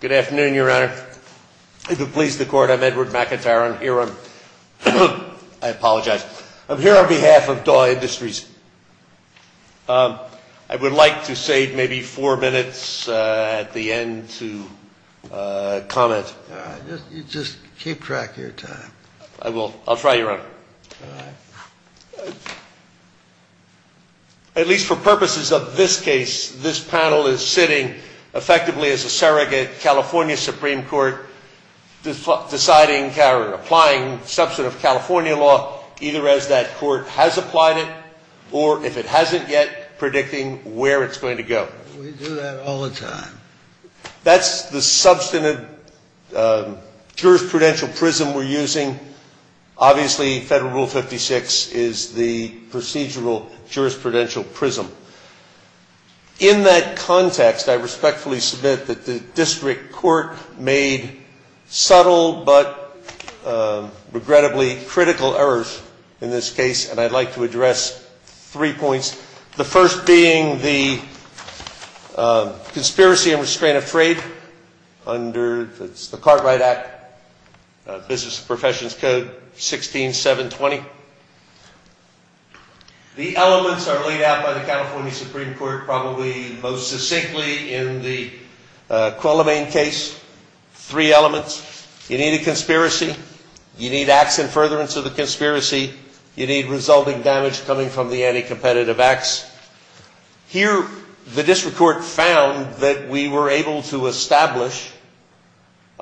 Good afternoon, Your Honor. If it pleases the court, I'm Edward McIntyre. I'm here on, I apologize, I'm here on behalf of Daw Industries. I would like to save maybe four minutes at the end to comment. Just keep track of your time. At least for purposes of this case, this panel is sitting effectively as a surrogate California Supreme Court deciding, applying substantive California law, either as that court has applied it, or if it hasn't yet, predicting where it's going to go. We do that all the time. That's the substantive jurisprudential prism we're using. Obviously, Federal Rule 56 is the procedural jurisprudential prism. In that context, I respectfully submit that the district court made subtle but regrettably critical errors in this case, and I'd like to address three points. The first being the conspiracy and restraint of trade under the Cartwright Act, Business Professions Code 16-720. The elements are laid out by the California Supreme Court probably most succinctly in the Quillemaine case, three elements. You need a conspiracy, you need acts in furtherance of the conspiracy, you need resulting damage coming from the anti-competitive acts. Here, the district court found that we were able to establish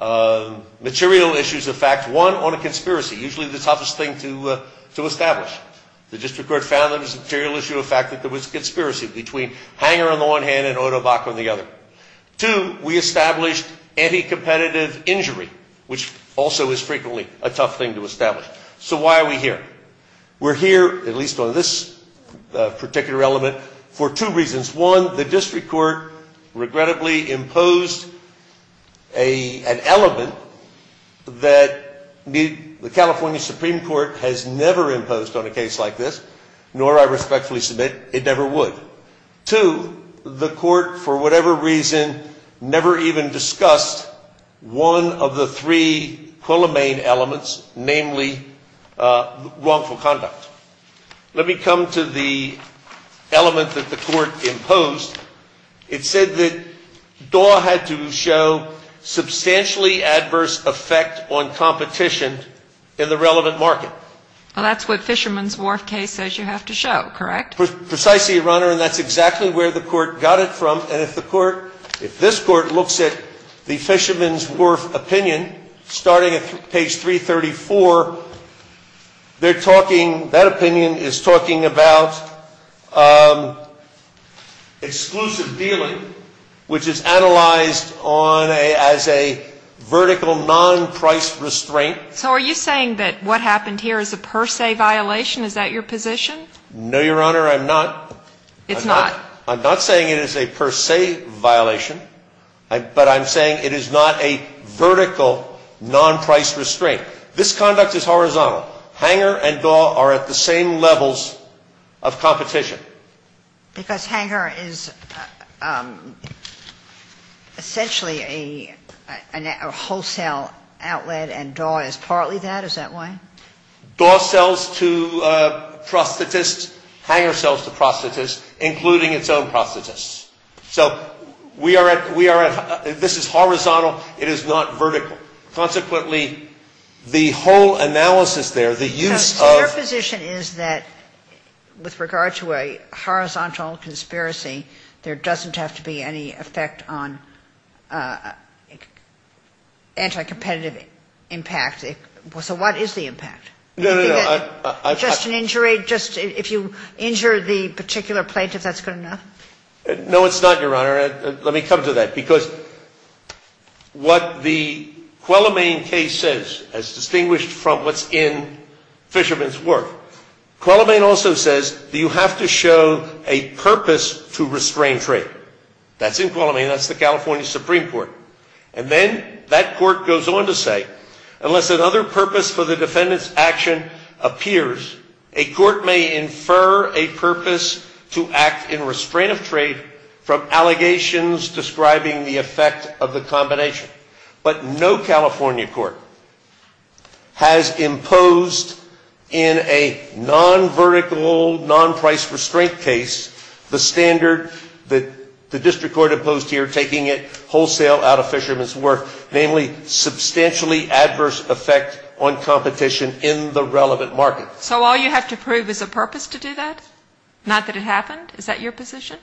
material issues of fact, one, on a conspiracy, usually the toughest thing to establish. The district court found there was a material issue of fact that there was a conspiracy between Hanger on the one hand and Odebock on the other. Two, we established anti-competitive injury, which also is frequently a tough thing to establish. So why are we here? We're here, at least on this particular element, for two reasons. One, the district court regrettably imposed an element that the California Supreme Court has never imposed on a case like this, nor I respectfully submit it never would. Two, the court, for whatever reason, never even discussed one of the three Quillemaine elements, namely wrongful conduct. Let me come to the element that the court imposed. It said that Daw had to show substantially adverse effect on competition in the relevant market. Well, that's what Fisherman's Wharf case says you have to show, correct? Precisely, Your Honor, and that's exactly where the court got it from. And if the court, if this court looks at the Fisherman's Wharf opinion, starting at page 334, they're talking, that opinion is talking about exclusive dealing, which is analyzed on a, as a vertical non-price restraint. So are you saying that what happened here is a per se violation? Is that your position? No, Your Honor, I'm not. It's not? I'm not saying it is a per se violation, but I'm saying it is not a vertical non-price restraint. This conduct is horizontal. Hanger and Daw are at the same levels of competition. Because Hanger is essentially a wholesale outlet and Daw is partly that? Is that why? Daw sells to prosthetists, Hanger sells to prosthetists, including its own prosthetists. So we are at, this is horizontal, it is not vertical. Consequently, the whole analysis there, the use of So your position is that with regard to a horizontal conspiracy, there doesn't have to be any effect on anti-competitive impact. So what is the impact? No, no, no. Just an injury, just if you injure the particular plaintiff, that's good enough? No, it's not, Your Honor. Let me come to that. Because what the Quillomane case says, as distinguished from what's in Fisherman's work, Quillomane also says that you have to show a purpose to restrain trade. That's in Quillomane. That's the California Supreme Court. And then that court goes on to say, unless another purpose for the defendant's action appears, a court may infer a purpose to act in restraint of trade from allegations describing the effect of the combination. But no California court has imposed in a non-vertical, non-price restraint case, the standard that the district court imposed here, taking it wholesale out of Fisherman's work, namely substantially adverse effect on competition in the relevant market. So all you have to prove is a purpose to do that? Not that it happened? Is that your position?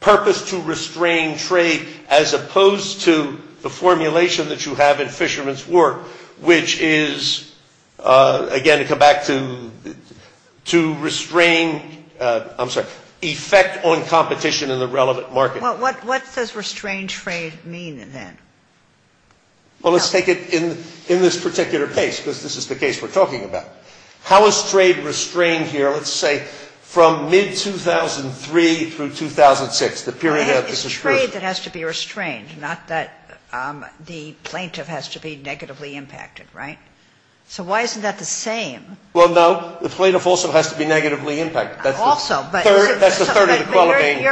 Purpose to restrain trade as opposed to the formulation that you have in Fisherman's work, which is, again, to come back to restrain, I'm sorry, effect on competition in the relevant market. Well, what does restrain trade mean, then? Well, let's take it in this particular case, because this is the case we're talking about. How is trade restrained here, let's say, from mid-2003 through 2006, the period of the Conscription? It's trade that has to be restrained, not that the plaintiff has to be negatively impacted, right? So why isn't that the same? Well, no. The plaintiff also has to be negatively impacted. Also. That's the third inequality.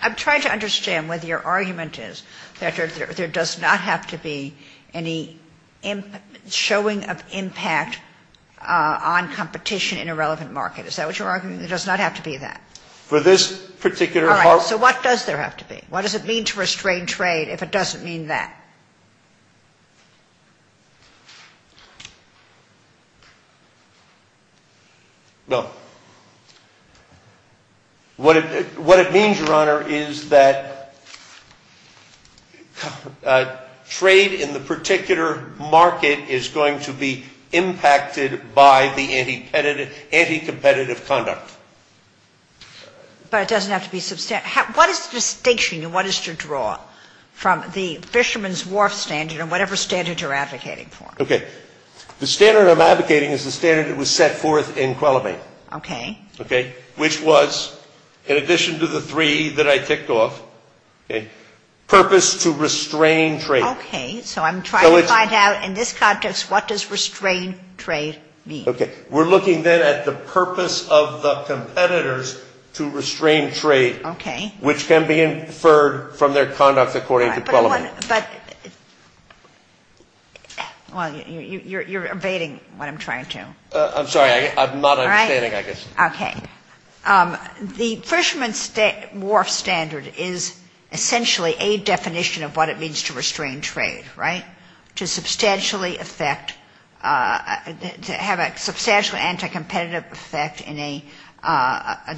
I'm trying to understand whether your argument is that there does not have to be any showing of impact on competition in a relevant market. Is that what you're arguing? There does not have to be that? For this particular part. So what does there have to be? What does it mean to restrain trade if it doesn't mean that? No. What it means, Your Honor, is that trade in the particular market is going to be impacted by the anti-competitive conduct. But it doesn't have to be substantive. What is the distinction and what is to draw from the Fisherman's Wharf standard and whatever standard you're advocating for? Okay. The standard I'm advocating is the standard that was set forth in Qualamate. Okay. Okay. Which was, in addition to the three that I ticked off, okay, purpose to restrain trade. Okay. So I'm trying to find out in this context what does restrain trade mean? Okay. We're looking then at the purpose of the competitors to restrain trade. Okay. Which can be inferred from their conduct according to Qualamate. But, well, you're evading what I'm trying to. I'm sorry. I'm not understanding, I guess. All right. Okay. The Fisherman's Wharf standard is essentially a definition of what it means to restrain trade, right? To substantially affect, to have a substantial anti-competitive effect in a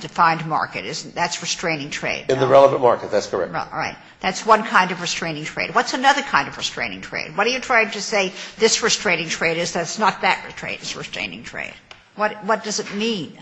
defined market. That's restraining trade. In the relevant market. That's correct. All right. That's one kind of restraining trade. What's another kind of restraining trade? What are you trying to say this restraining trade is, that it's not that restraining trade? What does it mean?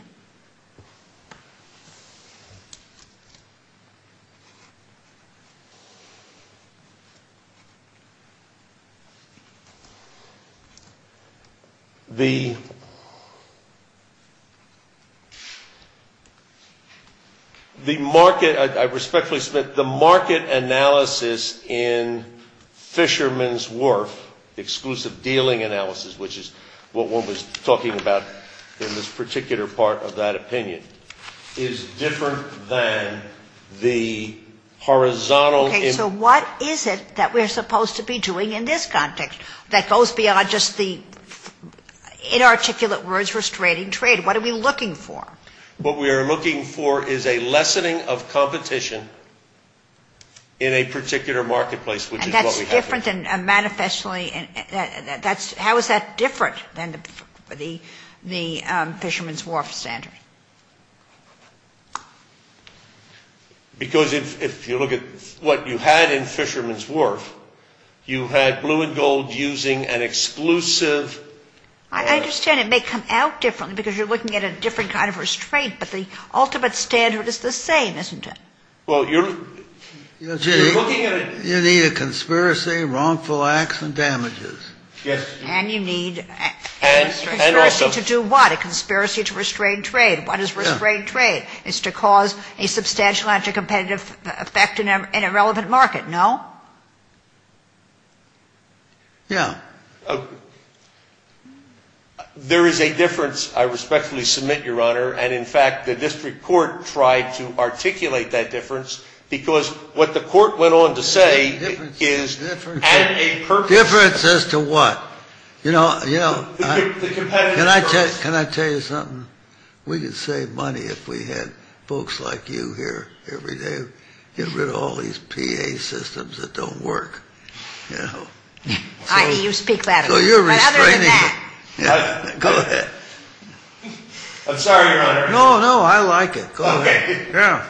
The market, I respectfully submit, the market analysis in Fisherman's Wharf, exclusive dealing analysis, which is what one was talking about in this particular part of that opinion, is different than the horizontal. Okay. So what is it that we're supposed to be doing in this context that goes beyond just the inarticulate words restraining trade? What are we looking for? What we are looking for is a lessening of competition in a particular marketplace, which is what we have. How is that different than the Fisherman's Wharf standard? Because if you look at what you had in Fisherman's Wharf, you had blue and gold using an exclusive. I understand it may come out differently because you're looking at a different kind of restraint, but the ultimate standard is the same, isn't it? You need a conspiracy, wrongful acts, and damages. And you need a conspiracy to do what? A conspiracy to restrain trade. What is restraining trade? It's to cause a substantial anti-competitive effect in a relevant market, no? Yeah. There is a difference. I respectfully submit, Your Honor. And, in fact, the district court tried to articulate that difference because what the court went on to say is at a purpose. Difference as to what? You know, can I tell you something? We could save money if we had folks like you here every day get rid of all these PA systems that don't work. You speak louder. So you're restraining. Go ahead. I'm sorry, Your Honor. No, no, I like it. Go ahead. Yeah.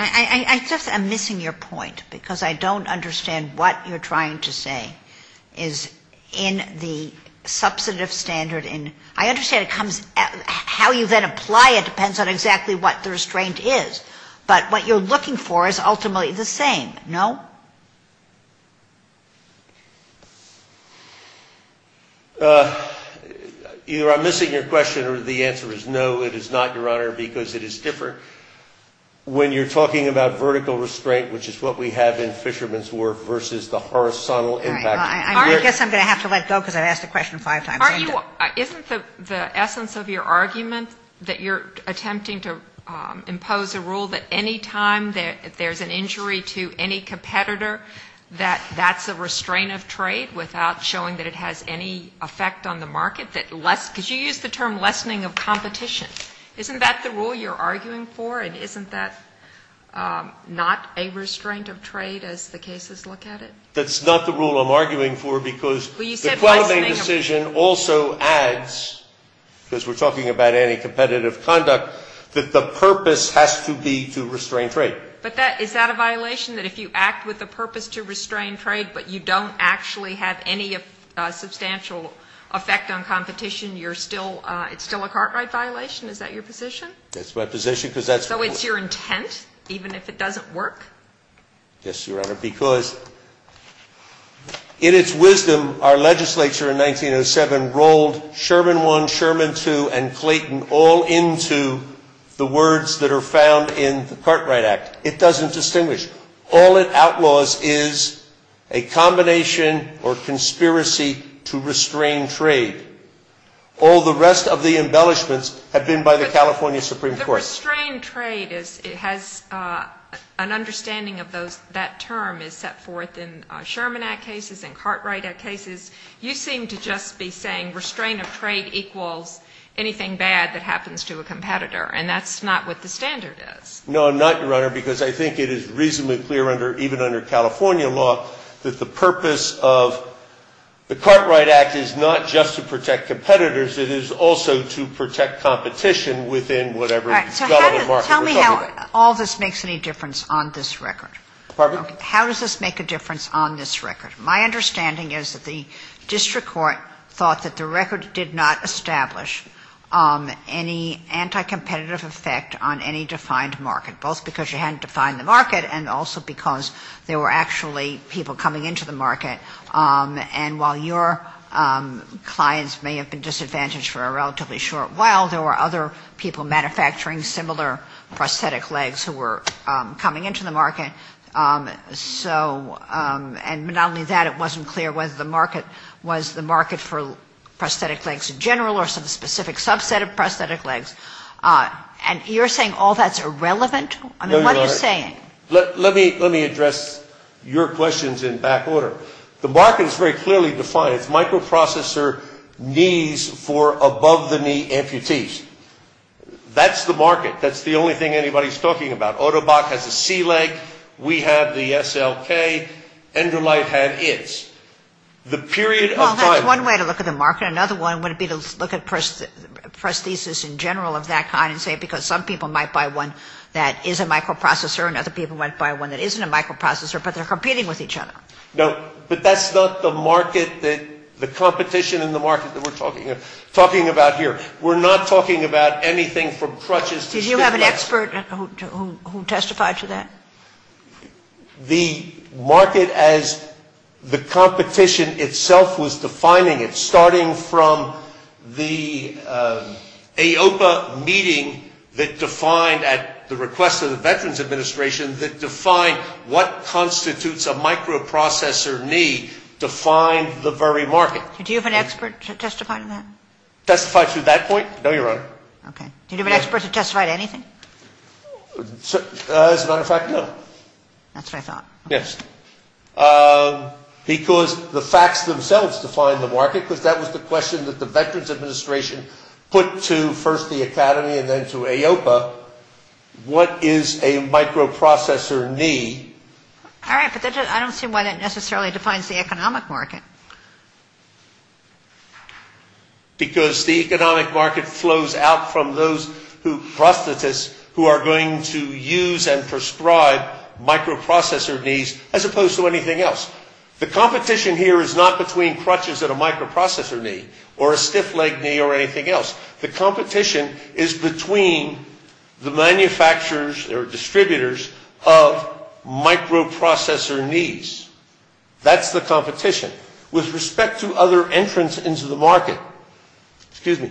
I just am missing your point because I don't understand what you're trying to say is in the substantive standard. I understand how you then apply it depends on exactly what the restraint is. But what you're looking for is ultimately the same, no? Either I'm missing your question or the answer is no, it is not, Your Honor, because it is different. When you're talking about vertical restraint, which is what we have in Fisherman's Wharf, versus the horizontal impact. All right. I guess I'm going to have to let go because I've asked the question five times. Aren't you? Isn't the essence of your argument that you're attempting to impose a rule that any time that there's an injury to any competitor, that that's a restraint of trade without showing that it has any effect on the market? Because you use the term lessening of competition. Isn't that the rule you're arguing for? And isn't that not a restraint of trade as the cases look at it? That's not the rule I'm arguing for because the quantum aid decision also adds, because we're talking about anti-competitive conduct, that the purpose has to be to restrain trade. But is that a violation? That if you act with a purpose to restrain trade but you don't actually have any substantial effect on competition, you're still, it's still a cart ride violation? Is that your position? That's my position because that's. So it's your intent, even if it doesn't work? Yes, Your Honor, because in its wisdom, our legislature in 1907 rolled Sherman 1, Sherman 2, and Clayton all into the words that are found in the Cartwright Act. It doesn't distinguish. All it outlaws is a combination or conspiracy to restrain trade. All the rest of the embellishments have been by the California Supreme Court. But the restrain trade, it has an understanding of those, that term is set forth in Sherman Act cases and Cartwright Act cases. You seem to just be saying restrain of trade equals anything bad that happens to a competitor. And that's not what the standard is. No, I'm not, Your Honor, because I think it is reasonably clear under, even under California law, that the purpose of the Cartwright Act is not just to protect competitors. It is also to protect competition within whatever. All right. Tell me how all this makes any difference on this record. Pardon? How does this make a difference on this record? My understanding is that the district court thought that the record did not establish any anti-competitive effect on any defined market, both because you hadn't defined the market and also because there were actually people coming into the market. And while your clients may have been disadvantaged for a relatively short while, there were other people manufacturing similar prosthetic legs who were coming into the market. So and not only that, it wasn't clear whether the market was the market for prosthetic legs in general or some specific subset of prosthetic legs. And you're saying all that's irrelevant? I mean, what are you saying? Let me address your questions in back order. The market is very clearly defined. It's microprocessor knees for above-the-knee amputees. That's the market. That's the only thing anybody's talking about. Ottobock has a C-leg. We have the SLK. Enderleicht had its. The period of time. Well, that's one way to look at the market. Another one would be to look at prosthesis in general of that kind and say because some people might buy one that is a microprocessor and other people might buy one that isn't a microprocessor, but they're competing with each other. No, but that's not the market that the competition in the market that we're talking about here. We're not talking about anything from crutches to stick legs. Do you have an expert who testified to that? The market as the competition itself was defining it, starting from the AOPA meeting that defined at the request of the Veterans Administration that defined what constitutes a microprocessor knee defined the very market. Do you have an expert to testify to that? Testify to that point? No, Your Honor. Okay. Do you have an expert to testify to anything? As a matter of fact, no. That's what I thought. Yes. Because the facts themselves define the market, because that was the question that the Veterans Administration put to first the Academy and then to AOPA. What is a microprocessor knee? All right, but I don't see why that necessarily defines the economic market. Because the economic market flows out from those prosthetists who are going to use and prescribe microprocessor knees as opposed to anything else. The competition here is not between crutches and a microprocessor knee or a stiff leg knee or anything else. The competition is between the manufacturers or distributors of microprocessor knees. That's the competition. With respect to other entrants into the market, excuse me,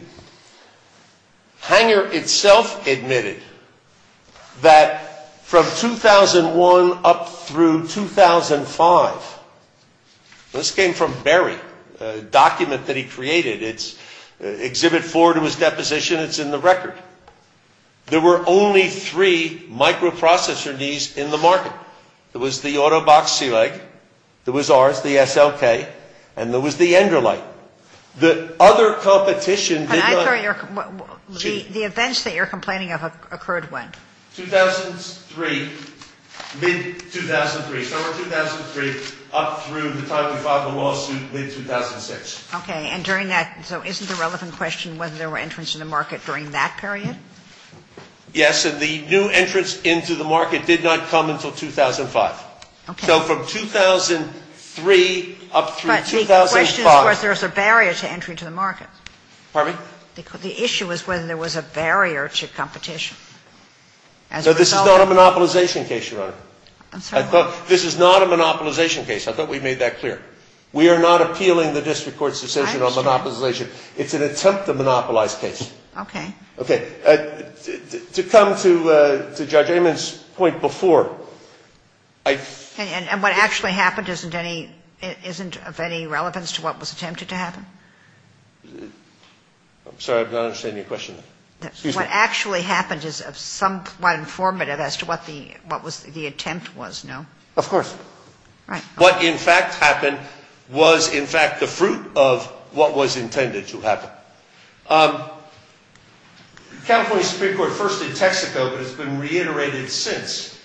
Hanger itself admitted that from 2001 up through 2005, this came from Berry, a document that he created. It's Exhibit 4 to his deposition. It's in the record. There were only three microprocessor knees in the market. There was the Autobaxi leg. There was ours, the SLK. And there was the Enderlein. The other competition did not. And I thought the events that you're complaining of occurred when? 2003, mid-2003. So it was 2003 up through the time we filed the lawsuit in 2006. Okay. And during that, so isn't the relevant question whether there were entrants in the market during that period? Yes, and the new entrants into the market did not come until 2005. Okay. So from 2003 up through 2005. But the question was whether there was a barrier to entry to the market. Pardon me? The issue was whether there was a barrier to competition as a result. No, this is not a monopolization case, Your Honor. I'm sorry, what? This is not a monopolization case. I thought we made that clear. We are not appealing the district court's decision on monopolization. I understand. It's an attempt to monopolize case. Okay. Okay. To come to Judge Amon's point before. And what actually happened isn't of any relevance to what was attempted to happen? I'm sorry, I'm not understanding your question. Excuse me. What actually happened is somewhat informative as to what the attempt was, no? Of course. Right. What in fact happened was in fact the fruit of what was intended to happen. California Supreme Court first did Texaco, but it's been reiterated since.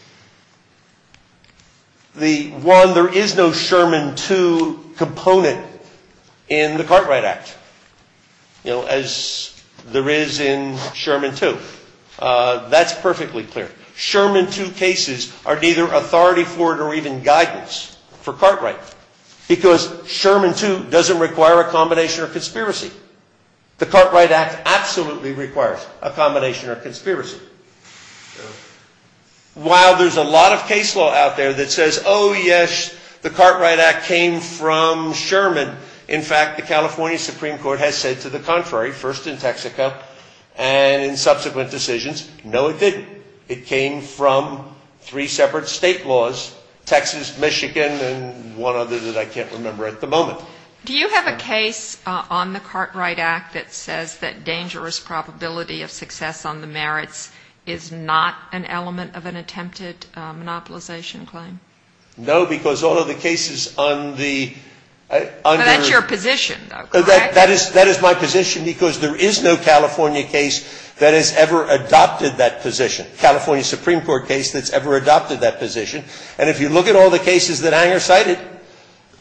The one, there is no Sherman 2 component in the Cartwright Act. You know, as there is in Sherman 2. That's perfectly clear. Sherman 2 cases are neither authority for it or even guidance for Cartwright. Because Sherman 2 doesn't require a combination or conspiracy. The Cartwright Act absolutely requires a combination or conspiracy. While there's a lot of case law out there that says, oh, yes, the Cartwright Act came from Sherman. In fact, the California Supreme Court has said to the contrary, first in Texaco and in subsequent decisions, no, it didn't. It came from three separate state laws, Texas, Michigan, and one other that I can't remember at the moment. Do you have a case on the Cartwright Act that says that dangerous probability of success on the merits is not an element of an attempted monopolization claim? No, because all of the cases on the under. But that's your position, though, correct? That is my position because there is no California case that has ever adopted that position, California Supreme Court case that's ever adopted that position. And if you look at all the cases that Anger cited,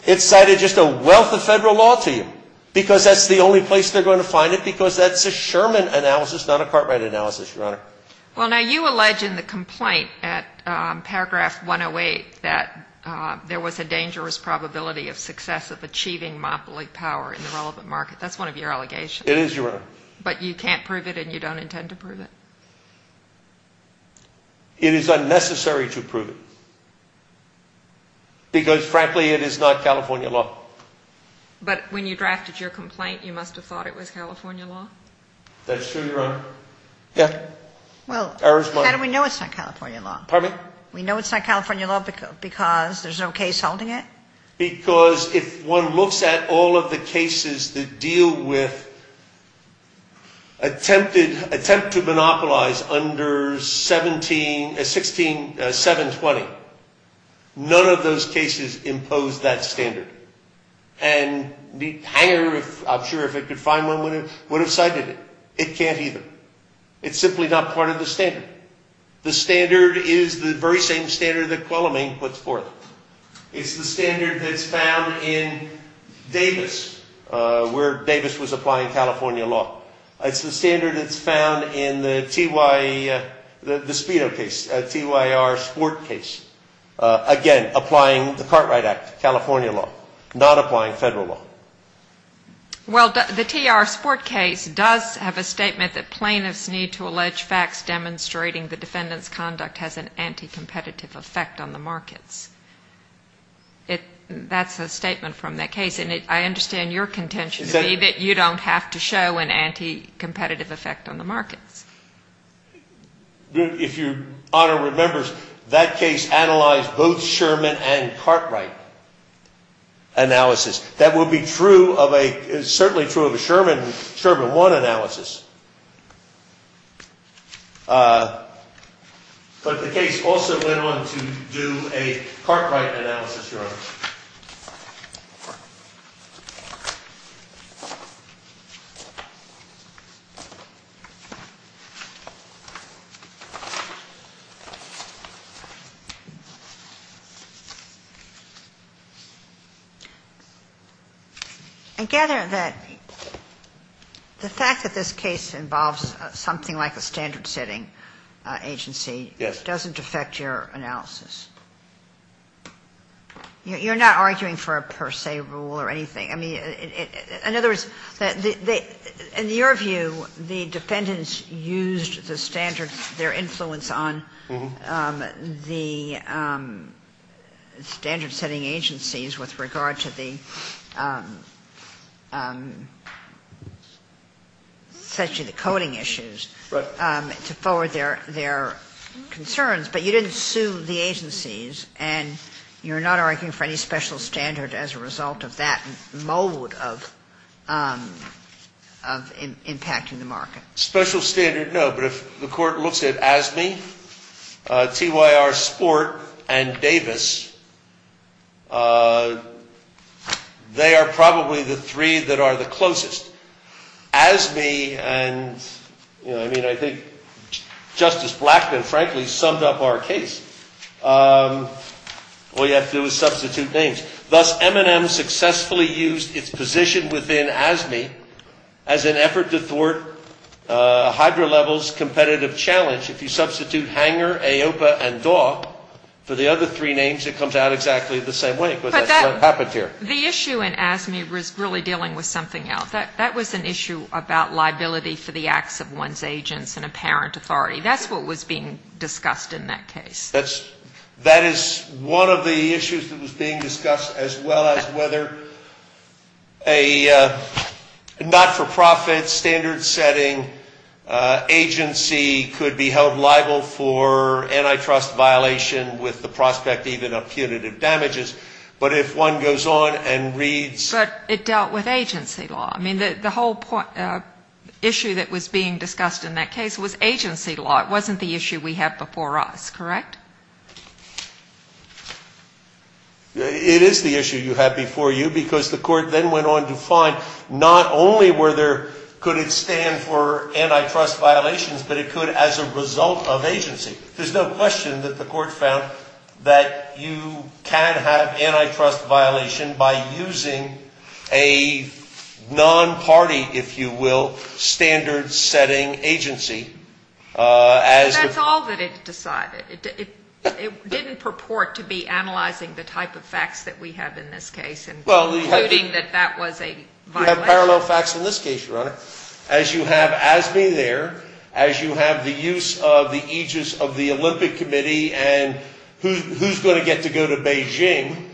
it cited just a wealth of federal law to you because that's the only place they're going to find it because that's a Sherman analysis, not a Cartwright analysis, Your Honor. Well, now, you allege in the complaint at paragraph 108 that there was a dangerous probability of success of achieving monopoly power in the relevant market. That's one of your allegations. It is, Your Honor. But you can't prove it and you don't intend to prove it. It is unnecessary to prove it because, frankly, it is not California law. But when you drafted your complaint, you must have thought it was California law. That's true, Your Honor. Yeah. Well, how do we know it's not California law? Pardon me? We know it's not California law because there's no case holding it? Because if one looks at all of the cases that deal with attempt to monopolize under 720, none of those cases impose that standard. And Anger, I'm sure if it could find one, would have cited it. It can't either. It's simply not part of the standard. The standard is the very same standard that Qualamain puts forth. It's the standard that's found in Davis, where Davis was applying California law. It's the standard that's found in the TY, the Speedo case, TYR Sport case. Again, applying the Cartwright Act, California law, not applying federal law. Well, the TR Sport case does have a statement that plaintiffs need to allege facts demonstrating the defendant's conduct has an anti-competitive effect on the markets. That's a statement from that case. And I understand your contention to be that you don't have to show an anti-competitive effect on the markets. If Your Honor remembers, that case analyzed both Sherman and Cartwright analysis. That would be true of a ‑‑ certainly true of a Sherman, Sherman 1 analysis. But the case also went on to do a Cartwright analysis, Your Honor. I gather that the fact that this case involves something like a standard setting agency doesn't affect your analysis. You're not arguing for a per se rule or anything. I mean, in other words, in your view, the defendants used the standards, their influence on the standard setting agencies with regard to the coding issues to forward their concerns, but you didn't sue the agencies, and you're not arguing for any special standard as a result of that mode of impacting the market. Special standard, no, but if the Court looks at ASME, TYR Sport, and Davis, they are probably the three that are the closest. ASME and, you know, I mean, I think Justice Blackman, frankly, summed up our case. All you have to do is substitute names. Thus, M&M successfully used its position within ASME as an effort to thwart HydroLevel's competitive challenge. If you substitute Hanger, AOPA, and Daw, for the other three names, it comes out exactly the same way. What happened here? The issue in ASME was really dealing with something else. That was an issue about liability for the acts of one's agents and apparent authority. That's what was being discussed in that case. That is one of the issues that was being discussed, as well as whether a not-for-profit, standard-setting agency could be held liable for antitrust violation with the prospect even of punitive damages, but if one goes on and reads... But it dealt with agency law. I mean, the whole issue that was being discussed in that case was agency law. It wasn't the issue we had before us, correct? It is the issue you had before you, because the Court then went on to find not only were there, could it stand for antitrust violations, but it could as a result of agency. There's no question that the Court found that you can have antitrust violation by using a non-party, if you will, standard-setting agency as... But that's all that it decided. It didn't purport to be analyzing the type of facts that we have in this case and concluding that that was a violation. As you have Asby there, as you have the use of the aegis of the Olympic Committee and who's going to get to go to Beijing,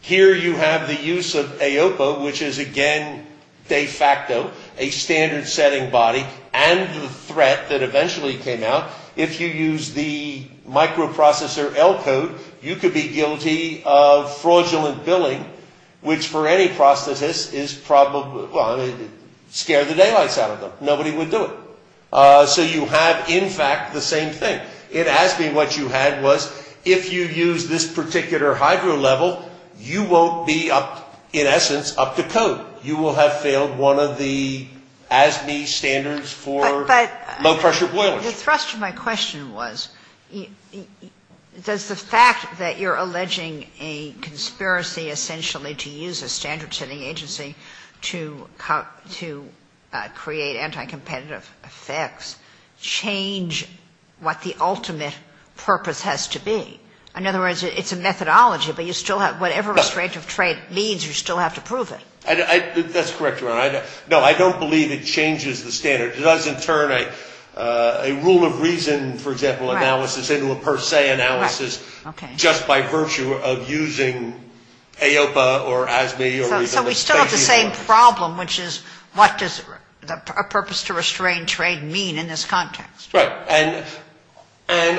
here you have the use of AOPA, which is again de facto a standard-setting body and the threat that eventually came out. If you use the microprocessor L code, you could be guilty of fraudulent billing, which for any prosthetist is probably... Nobody would do it. So you have in fact the same thing. In Asby what you had was if you use this particular hydro level, you won't be up, in essence, up to code. You will have failed one of the Asby standards for low-pressure boilers. But the thrust of my question was, does the fact that you're alleging a conspiracy essentially to use a standard-setting agency to create anti-competitive effects change what the ultimate purpose has to be? In other words, it's a methodology, but you still have, whatever restraint of trade means, you still have to prove it. That's correct, Your Honor. No, I don't believe it changes the standard. It does in turn a rule of reason, for example, analysis into a per se analysis just by virtue of using AOPA or Asby. So we still have the same problem, which is what does a purpose to restrain trade mean in this context? Right. And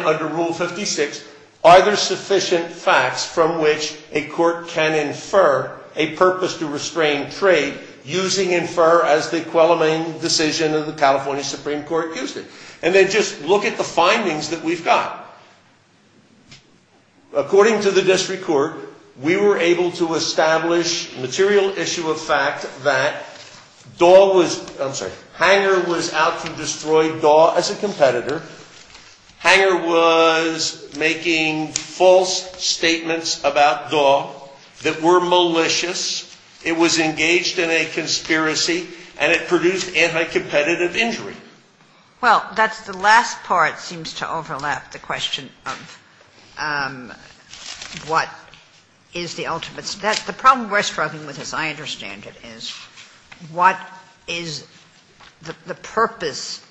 under Rule 56, are there sufficient facts from which a court can infer a purpose to restrain trade using infer as the equivalent decision of the California Supreme Court used it? And then just look at the findings that we've got. According to the district court, we were able to establish material issue of fact that Daw was, I'm sorry, Hanger was out to destroy Daw as a competitor. Hanger was making false statements about Daw that were malicious. It was engaged in a conspiracy, and it produced anti-competitive injury. Well, that's the last part seems to overlap the question of what is the ultimate. The problem we're struggling with, as I understand it, is what is the purpose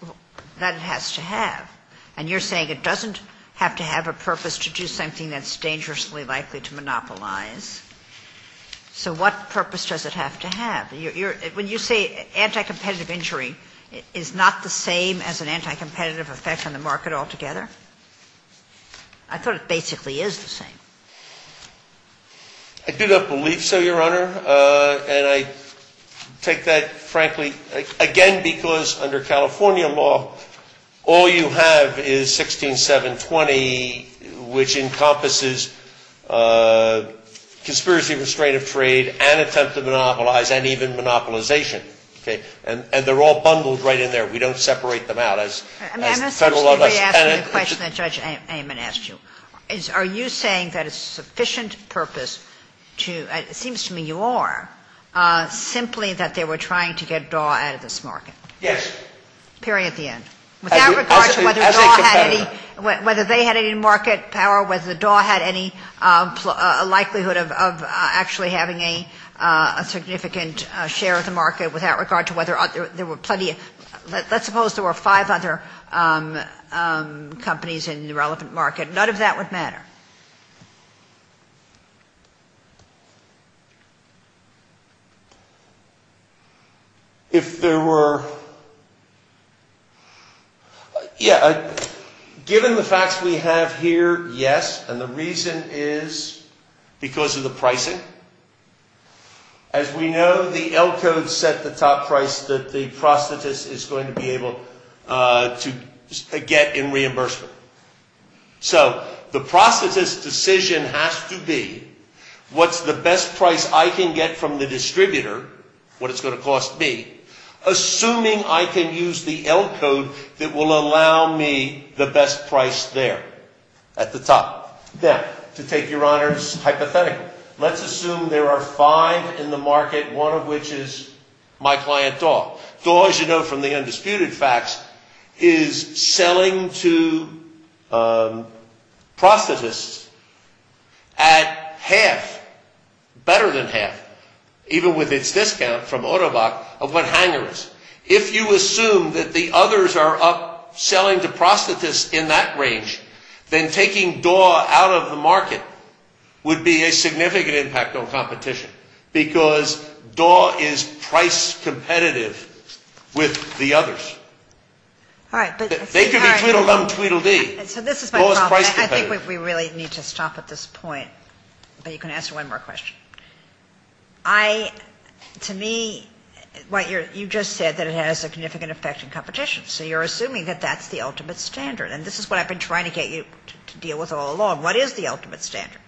that it has to have. And you're saying it doesn't have to have a purpose to do something that's dangerously likely to monopolize. So what purpose does it have to have? When you say anti-competitive injury, is not the same as an anti-competitive effect on the market altogether? I thought it basically is the same. I do not believe so, Your Honor. And I take that frankly, again, because under California law, all you have is 16720, which encompasses conspiracy, restraint of trade, and attempt to monopolize, and even monopolization. And they're all bundled right in there. We don't separate them out. I'm essentially asking the question that Judge Amon asked you. Are you saying that it's sufficient purpose to, it seems to me you are, simply that they were trying to get Daw out of this market? Yes. Period, the end. Without regard to whether Daw had any, whether they had any market power, whether Daw had any likelihood of actually having a significant share of the market, without regard to whether there were plenty of, let's suppose there were five other companies in the relevant market. None of that would matter. If there were, yeah, given the facts we have here, yes. And the reason is because of the pricing. As we know, the L code set the top price that the prostitutes is going to be able to get in reimbursement. So the prostitutes' decision has to be what's the best price I can get from the distributor, what it's going to cost me, assuming I can use the L code that will allow me the best price there at the top. Now, to take your honors hypothetically, let's assume there are five in the market, one of which is my client Daw. Daw, as you know from the undisputed facts, is selling to prostitutes at half, better than half, even with its discount from Ottobock, of what Hanger is. If you assume that the others are up selling to prostitutes in that range, then taking Daw out of the market would be a significant impact on competition because Daw is price competitive with the others. They could be Tweedledum, Tweedledee. Daw is price competitive. I think we really need to stop at this point, but you can answer one more question. To me, you just said that it has a significant effect in competition, so you're assuming that that's the ultimate standard. And this is what I've been trying to get you to deal with all along. What is the ultimate standard?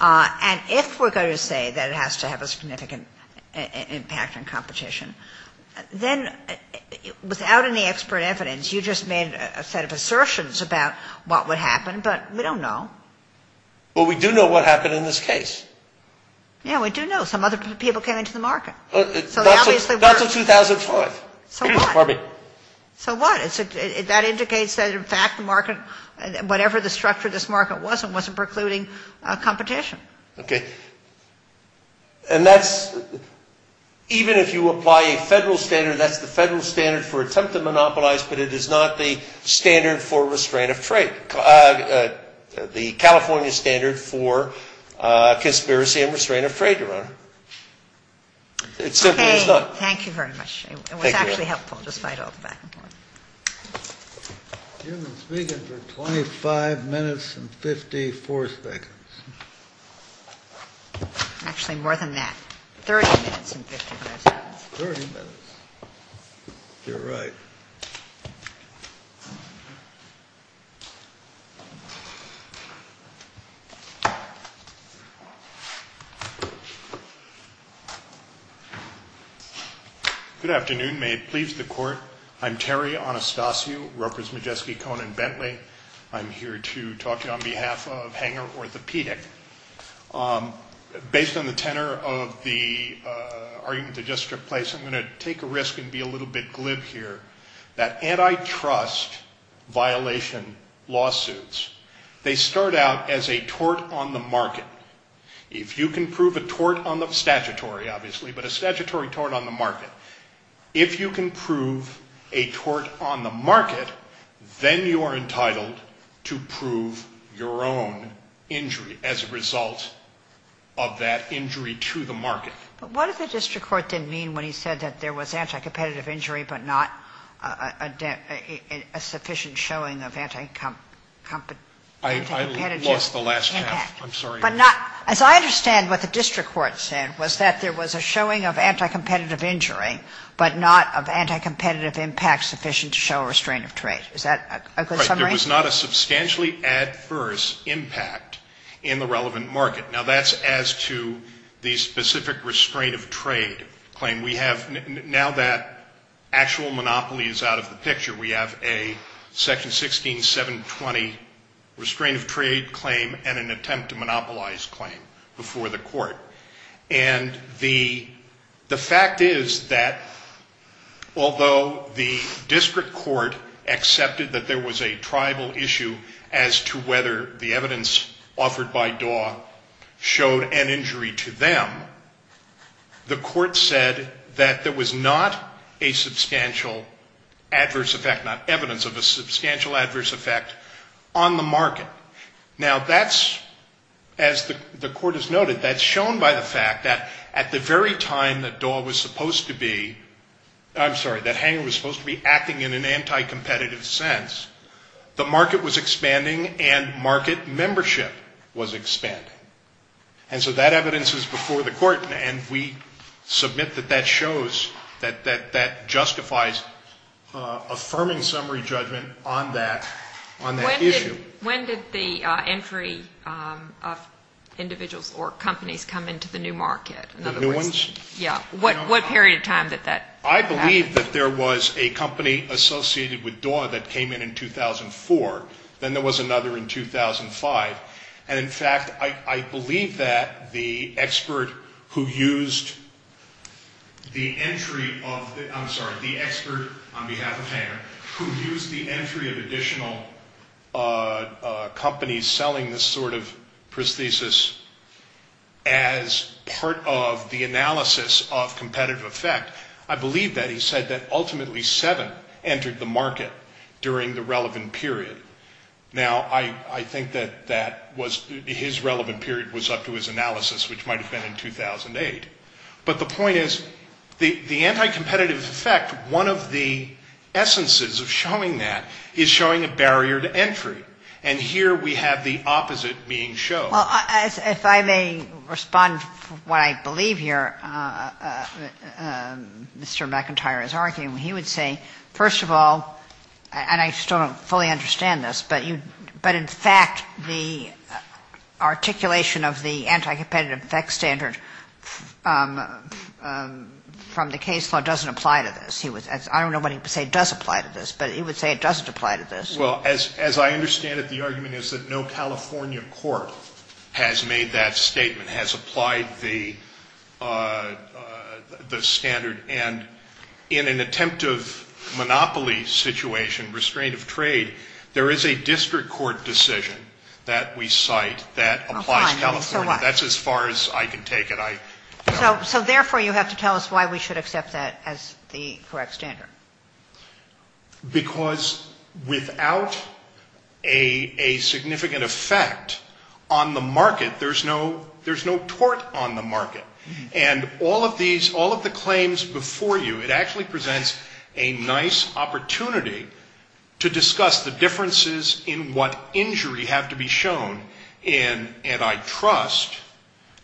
And if we're going to say that it has to have a significant impact on competition, then without any expert evidence you just made a set of assertions about what would happen, but we don't know. Well, we do know what happened in this case. Yeah, we do know. Some other people came into the market. Not until 2004. So what? So what? That indicates that, in fact, the market, whatever the structure of this market was, it wasn't precluding competition. Okay. And that's, even if you apply a federal standard, that's the federal standard for attempt to monopolize, but it is not the standard for restraint of trade, the California standard for conspiracy and restraint of trade, Your Honor. It simply is not. Okay. Thank you very much. It was actually helpful, despite all the back and forth. You've been speaking for 25 minutes and 54 seconds. Actually, more than that. 30 minutes and 55 seconds. 30 minutes. You're right. Thank you. Good afternoon. May it please the Court. I'm Terry Anastasiou, Ropers, Majeski, Cohen, and Bentley. I'm here to talk to you on behalf of Hanger Orthopedic. Based on the tenor of the argument that just took place, I'm going to take a risk and be a little bit glib here, that antitrust violation lawsuits, they start out as a tort on the market. If you can prove a tort on the statutory, obviously, but a statutory tort on the market. If you can prove a tort on the market, then you are entitled to prove your own injury as a result of that injury to the market. But what if the district court didn't mean when he said that there was anticompetitive injury but not a sufficient showing of anticompetitive impact? I lost the last half. I'm sorry. As I understand what the district court said was that there was a showing of anticompetitive injury but not of anticompetitive impact sufficient to show a restraint of trade. Is that a good summary? Right. There was not a substantially adverse impact in the relevant market. Now, that's as to the specific restraint of trade claim. We have now that actual monopoly is out of the picture. We have a section 16-720 restraint of trade claim and an attempt to monopolize claim before the court. And the fact is that although the district court accepted that there was a tribal issue as to whether the evidence offered by DAW showed an injury to them, the court said that there was not a substantial adverse effect not evidence of a substantial adverse effect on the market. Now, that's, as the court has noted, that's shown by the fact that at the very time that DAW was supposed to be, I'm sorry, that Hanger was supposed to be acting in an anticompetitive sense, the market was expanding and market membership was expanding. And so that evidence is before the court, and we submit that that shows, that that justifies affirming summary judgment on that issue. When did the entry of individuals or companies come into the new market? The new ones? Yeah. What period of time did that happen? I believe that there was a company associated with DAW that came in in 2004. Then there was another in 2005. And, in fact, I believe that the expert who used the entry of, I'm sorry, the expert on behalf of Hanger, who used the entry of additional companies selling this sort of prosthesis as part of the analysis of competitive effect, I believe that he said that ultimately seven entered the market during the relevant period. Now, I think that that was, his relevant period was up to his analysis, which might have been in 2008. But the point is the anticompetitive effect, one of the essences of showing that, is showing a barrier to entry. And here we have the opposite being shown. Well, if I may respond to what I believe here, Mr. McIntyre is arguing. He would say, first of all, and I still don't fully understand this, but in fact the articulation of the anticompetitive effect standard from the case law doesn't apply to this. I don't know what he would say does apply to this, but he would say it doesn't apply to this. Well, as I understand it, the argument is that no California court has made that statement, has applied the standard. And in an attempt of monopoly situation, restraint of trade, there is a district court decision that we cite that applies to California. That's as far as I can take it. So therefore you have to tell us why we should accept that as the correct standard. Because without a significant effect on the market, there's no tort on the market. And all of these, all of the claims before you, it actually presents a nice opportunity to discuss the differences in what injury have to be shown in, and I trust,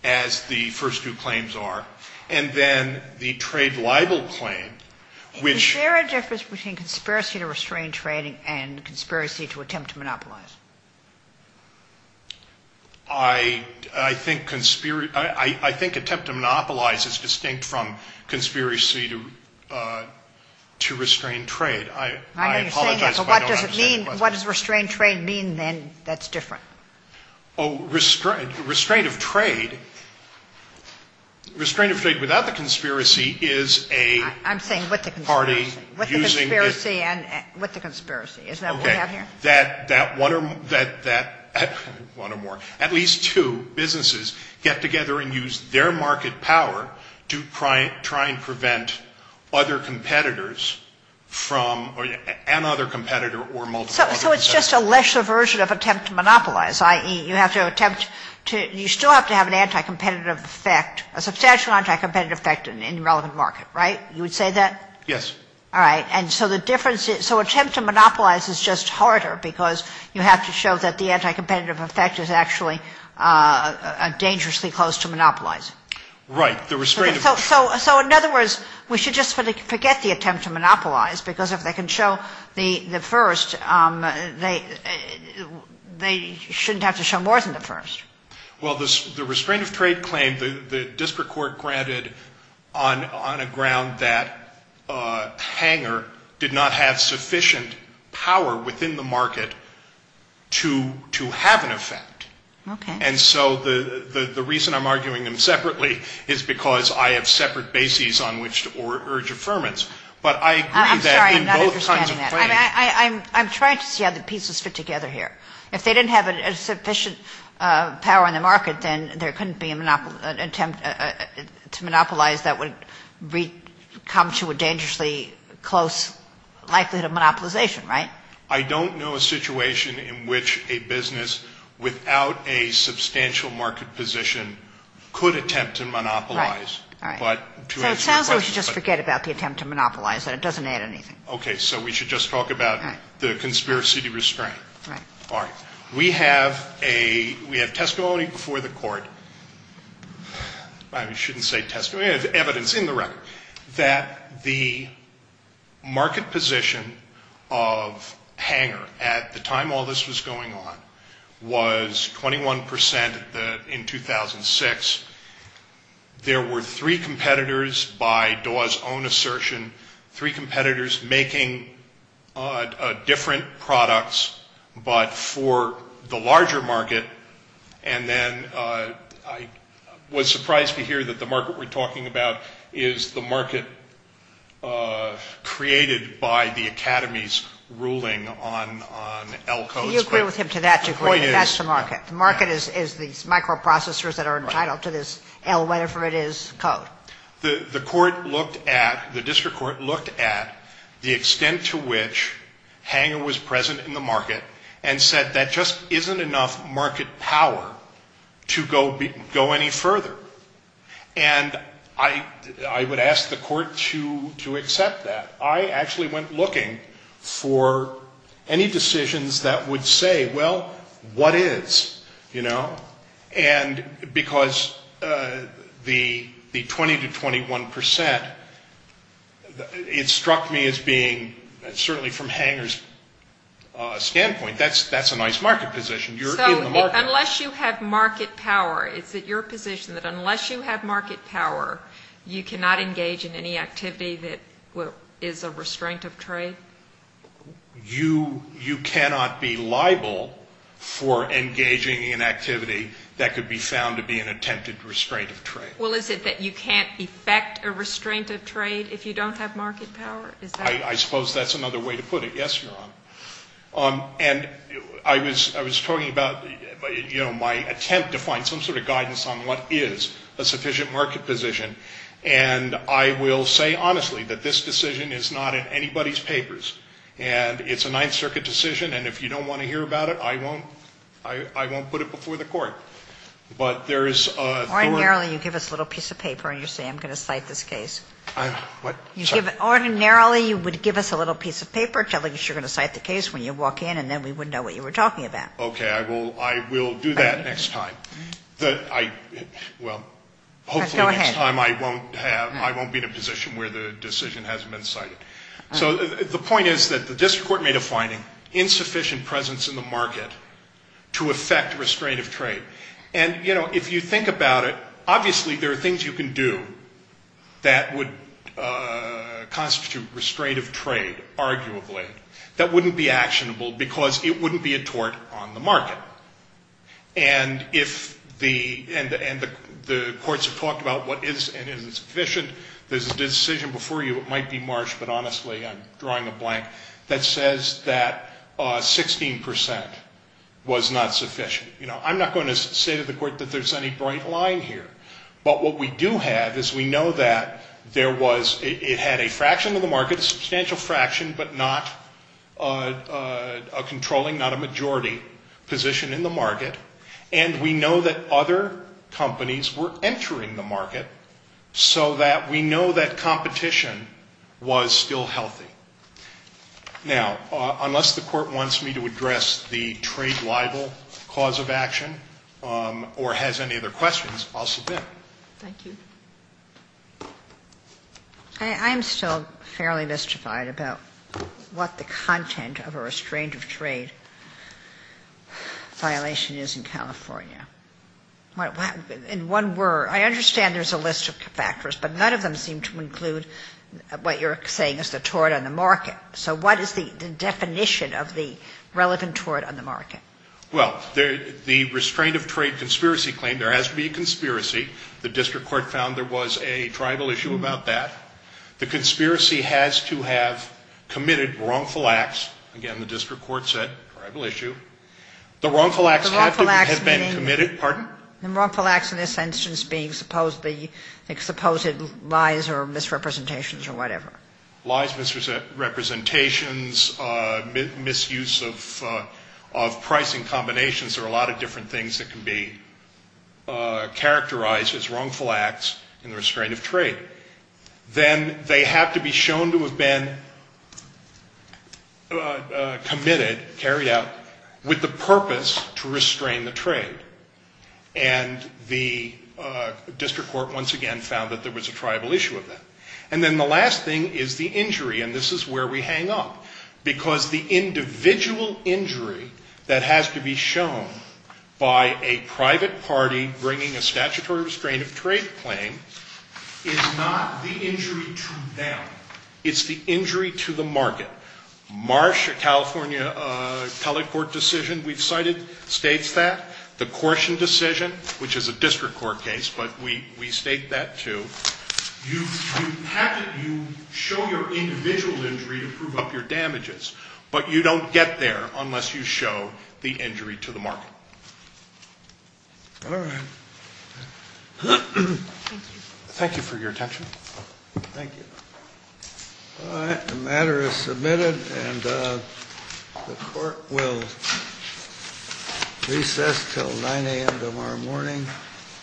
as the first two claims are, and then the trade libel claim, which ‑‑ Is there a difference between conspiracy to restrain trade and conspiracy to attempt to monopolize? I think attempt to monopolize is distinct from conspiracy to restrain trade. I apologize, but I don't understand the question. What does restrain trade mean, then, that's different? Restraint of trade, restraint of trade without the conspiracy is a party using the ‑‑ I'm saying with the conspiracy. With the conspiracy. With the conspiracy. That one or more, at least two businesses get together and use their market power to try and prevent other competitors from, another competitor or multiple competitors. So it's just a lesser version of attempt to monopolize, i.e., you still have to have an anti‑competitive effect, a substantial anti‑competitive effect in the relevant market, right? You would say that? Yes. All right. And so the difference is ‑‑ so attempt to monopolize is just harder because you have to show that the anti‑competitive effect is actually dangerously close to monopolizing. Right. So, in other words, we should just forget the attempt to monopolize because if they can show the first, they shouldn't have to show more than the first. Well, the restraint of trade claim, the district court granted on a ground that Hanger did not have sufficient power within the market to have an effect. Okay. And so the reason I'm arguing them separately is because I have separate bases on which to urge affirmance. But I agree that in both kinds of claims ‑‑ I'm sorry. I'm not understanding that. I'm trying to see how the pieces fit together here. If they didn't have sufficient power in the market, then there couldn't be an attempt to monopolize that would come to a dangerously close likelihood of monopolization, right? I don't know a situation in which a business without a substantial market position could attempt to monopolize. Right. All right. So it sounds like we should just forget about the attempt to monopolize. It doesn't add anything. So we should just talk about the conspiracy to restraint. Right. All right. We have a ‑‑ we have testimony before the court. I shouldn't say testimony. We have evidence in the record that the market position of Hanger at the time all this was going on was 21 percent in 2006. There were three competitors by Dawes' own assertion, three competitors making different products but for the larger market. And then I was surprised to hear that the market we're talking about is the market created by the academy's ruling on L codes. You agree with him to that degree. The point is ‑‑ That's the market. The market is these microprocessors that are entitled to this L, whatever it is, code. The court looked at, the district court looked at the extent to which Hanger was present in the market and said that just isn't enough market power to go any further. And I would ask the court to accept that. I actually went looking for any decisions that would say, well, what is? And because the 20 to 21 percent, it struck me as being, certainly from Hanger's standpoint, that's a nice market position. You're in the market. Unless you have market power, is it your position that unless you have market power, you cannot engage in any activity that is a restraint of trade? You cannot be liable for engaging in activity that could be found to be an attempted restraint of trade. Well, is it that you can't effect a restraint of trade if you don't have market power? I suppose that's another way to put it. Yes, Your Honor. And I was talking about my attempt to find some sort of guidance on what is a sufficient market position. And I will say honestly that this decision is not in anybody's papers. And it's a Ninth Circuit decision. And if you don't want to hear about it, I won't put it before the court. But there is a thorough ---- Ordinarily you give us a little piece of paper and you say I'm going to cite this case. What? Ordinarily you would give us a little piece of paper telling us you're going to cite the case when you walk in and then we would know what you were talking about. Okay. I will do that next time. Well, hopefully next time I won't have ---- Go ahead. I won't be in a position where the decision hasn't been cited. So the point is that the district court made a finding, insufficient presence in the market to effect restraint of trade. And, you know, if you think about it, obviously there are things you can do that would constitute restraint of trade, arguably, that wouldn't be actionable because it wouldn't be a tort on the market. And if the courts have talked about what is and isn't sufficient, there's a decision before you, it might be Marsh, but honestly I'm drawing a blank, that says that 16% was not sufficient. You know, I'm not going to say to the court that there's any bright line here. But what we do have is we know that there was ---- a substantial fraction, but not a controlling, not a majority position in the market. And we know that other companies were entering the market so that we know that competition was still healthy. Now, unless the court wants me to address the trade libel cause of action or has any other questions, I'll submit. Thank you. I'm still fairly mystified about what the content of a restraint of trade violation is in California. In one word, I understand there's a list of factors, but none of them seem to include what you're saying is the tort on the market. So what is the definition of the relevant tort on the market? Well, the restraint of trade conspiracy claim, there has to be a conspiracy. The district court found there was a tribal issue about that. The conspiracy has to have committed wrongful acts. Again, the district court said tribal issue. The wrongful acts have been committed. Pardon? The wrongful acts in this instance being supposedly, I think, supposed lies or misrepresentations or whatever. Lies, misrepresentations, misuse of pricing combinations. There are a lot of different things that can be characterized as wrongful acts in the restraint of trade. Then they have to be shown to have been committed, carried out, with the purpose to restrain the trade. And the district court once again found that there was a tribal issue of that. And then the last thing is the injury. And this is where we hang up. Because the individual injury that has to be shown by a private party bringing a statutory restraint of trade claim is not the injury to them. It's the injury to the market. Marsh, a California telecourt decision we've cited, states that. The Caution decision, which is a district court case, but we state that, too. You show your individual injury to prove up your damages. But you don't get there unless you show the injury to the market. All right. Thank you for your attention. Thank you. All right. The matter is submitted. And the court will recess until 9 a.m. tomorrow morning.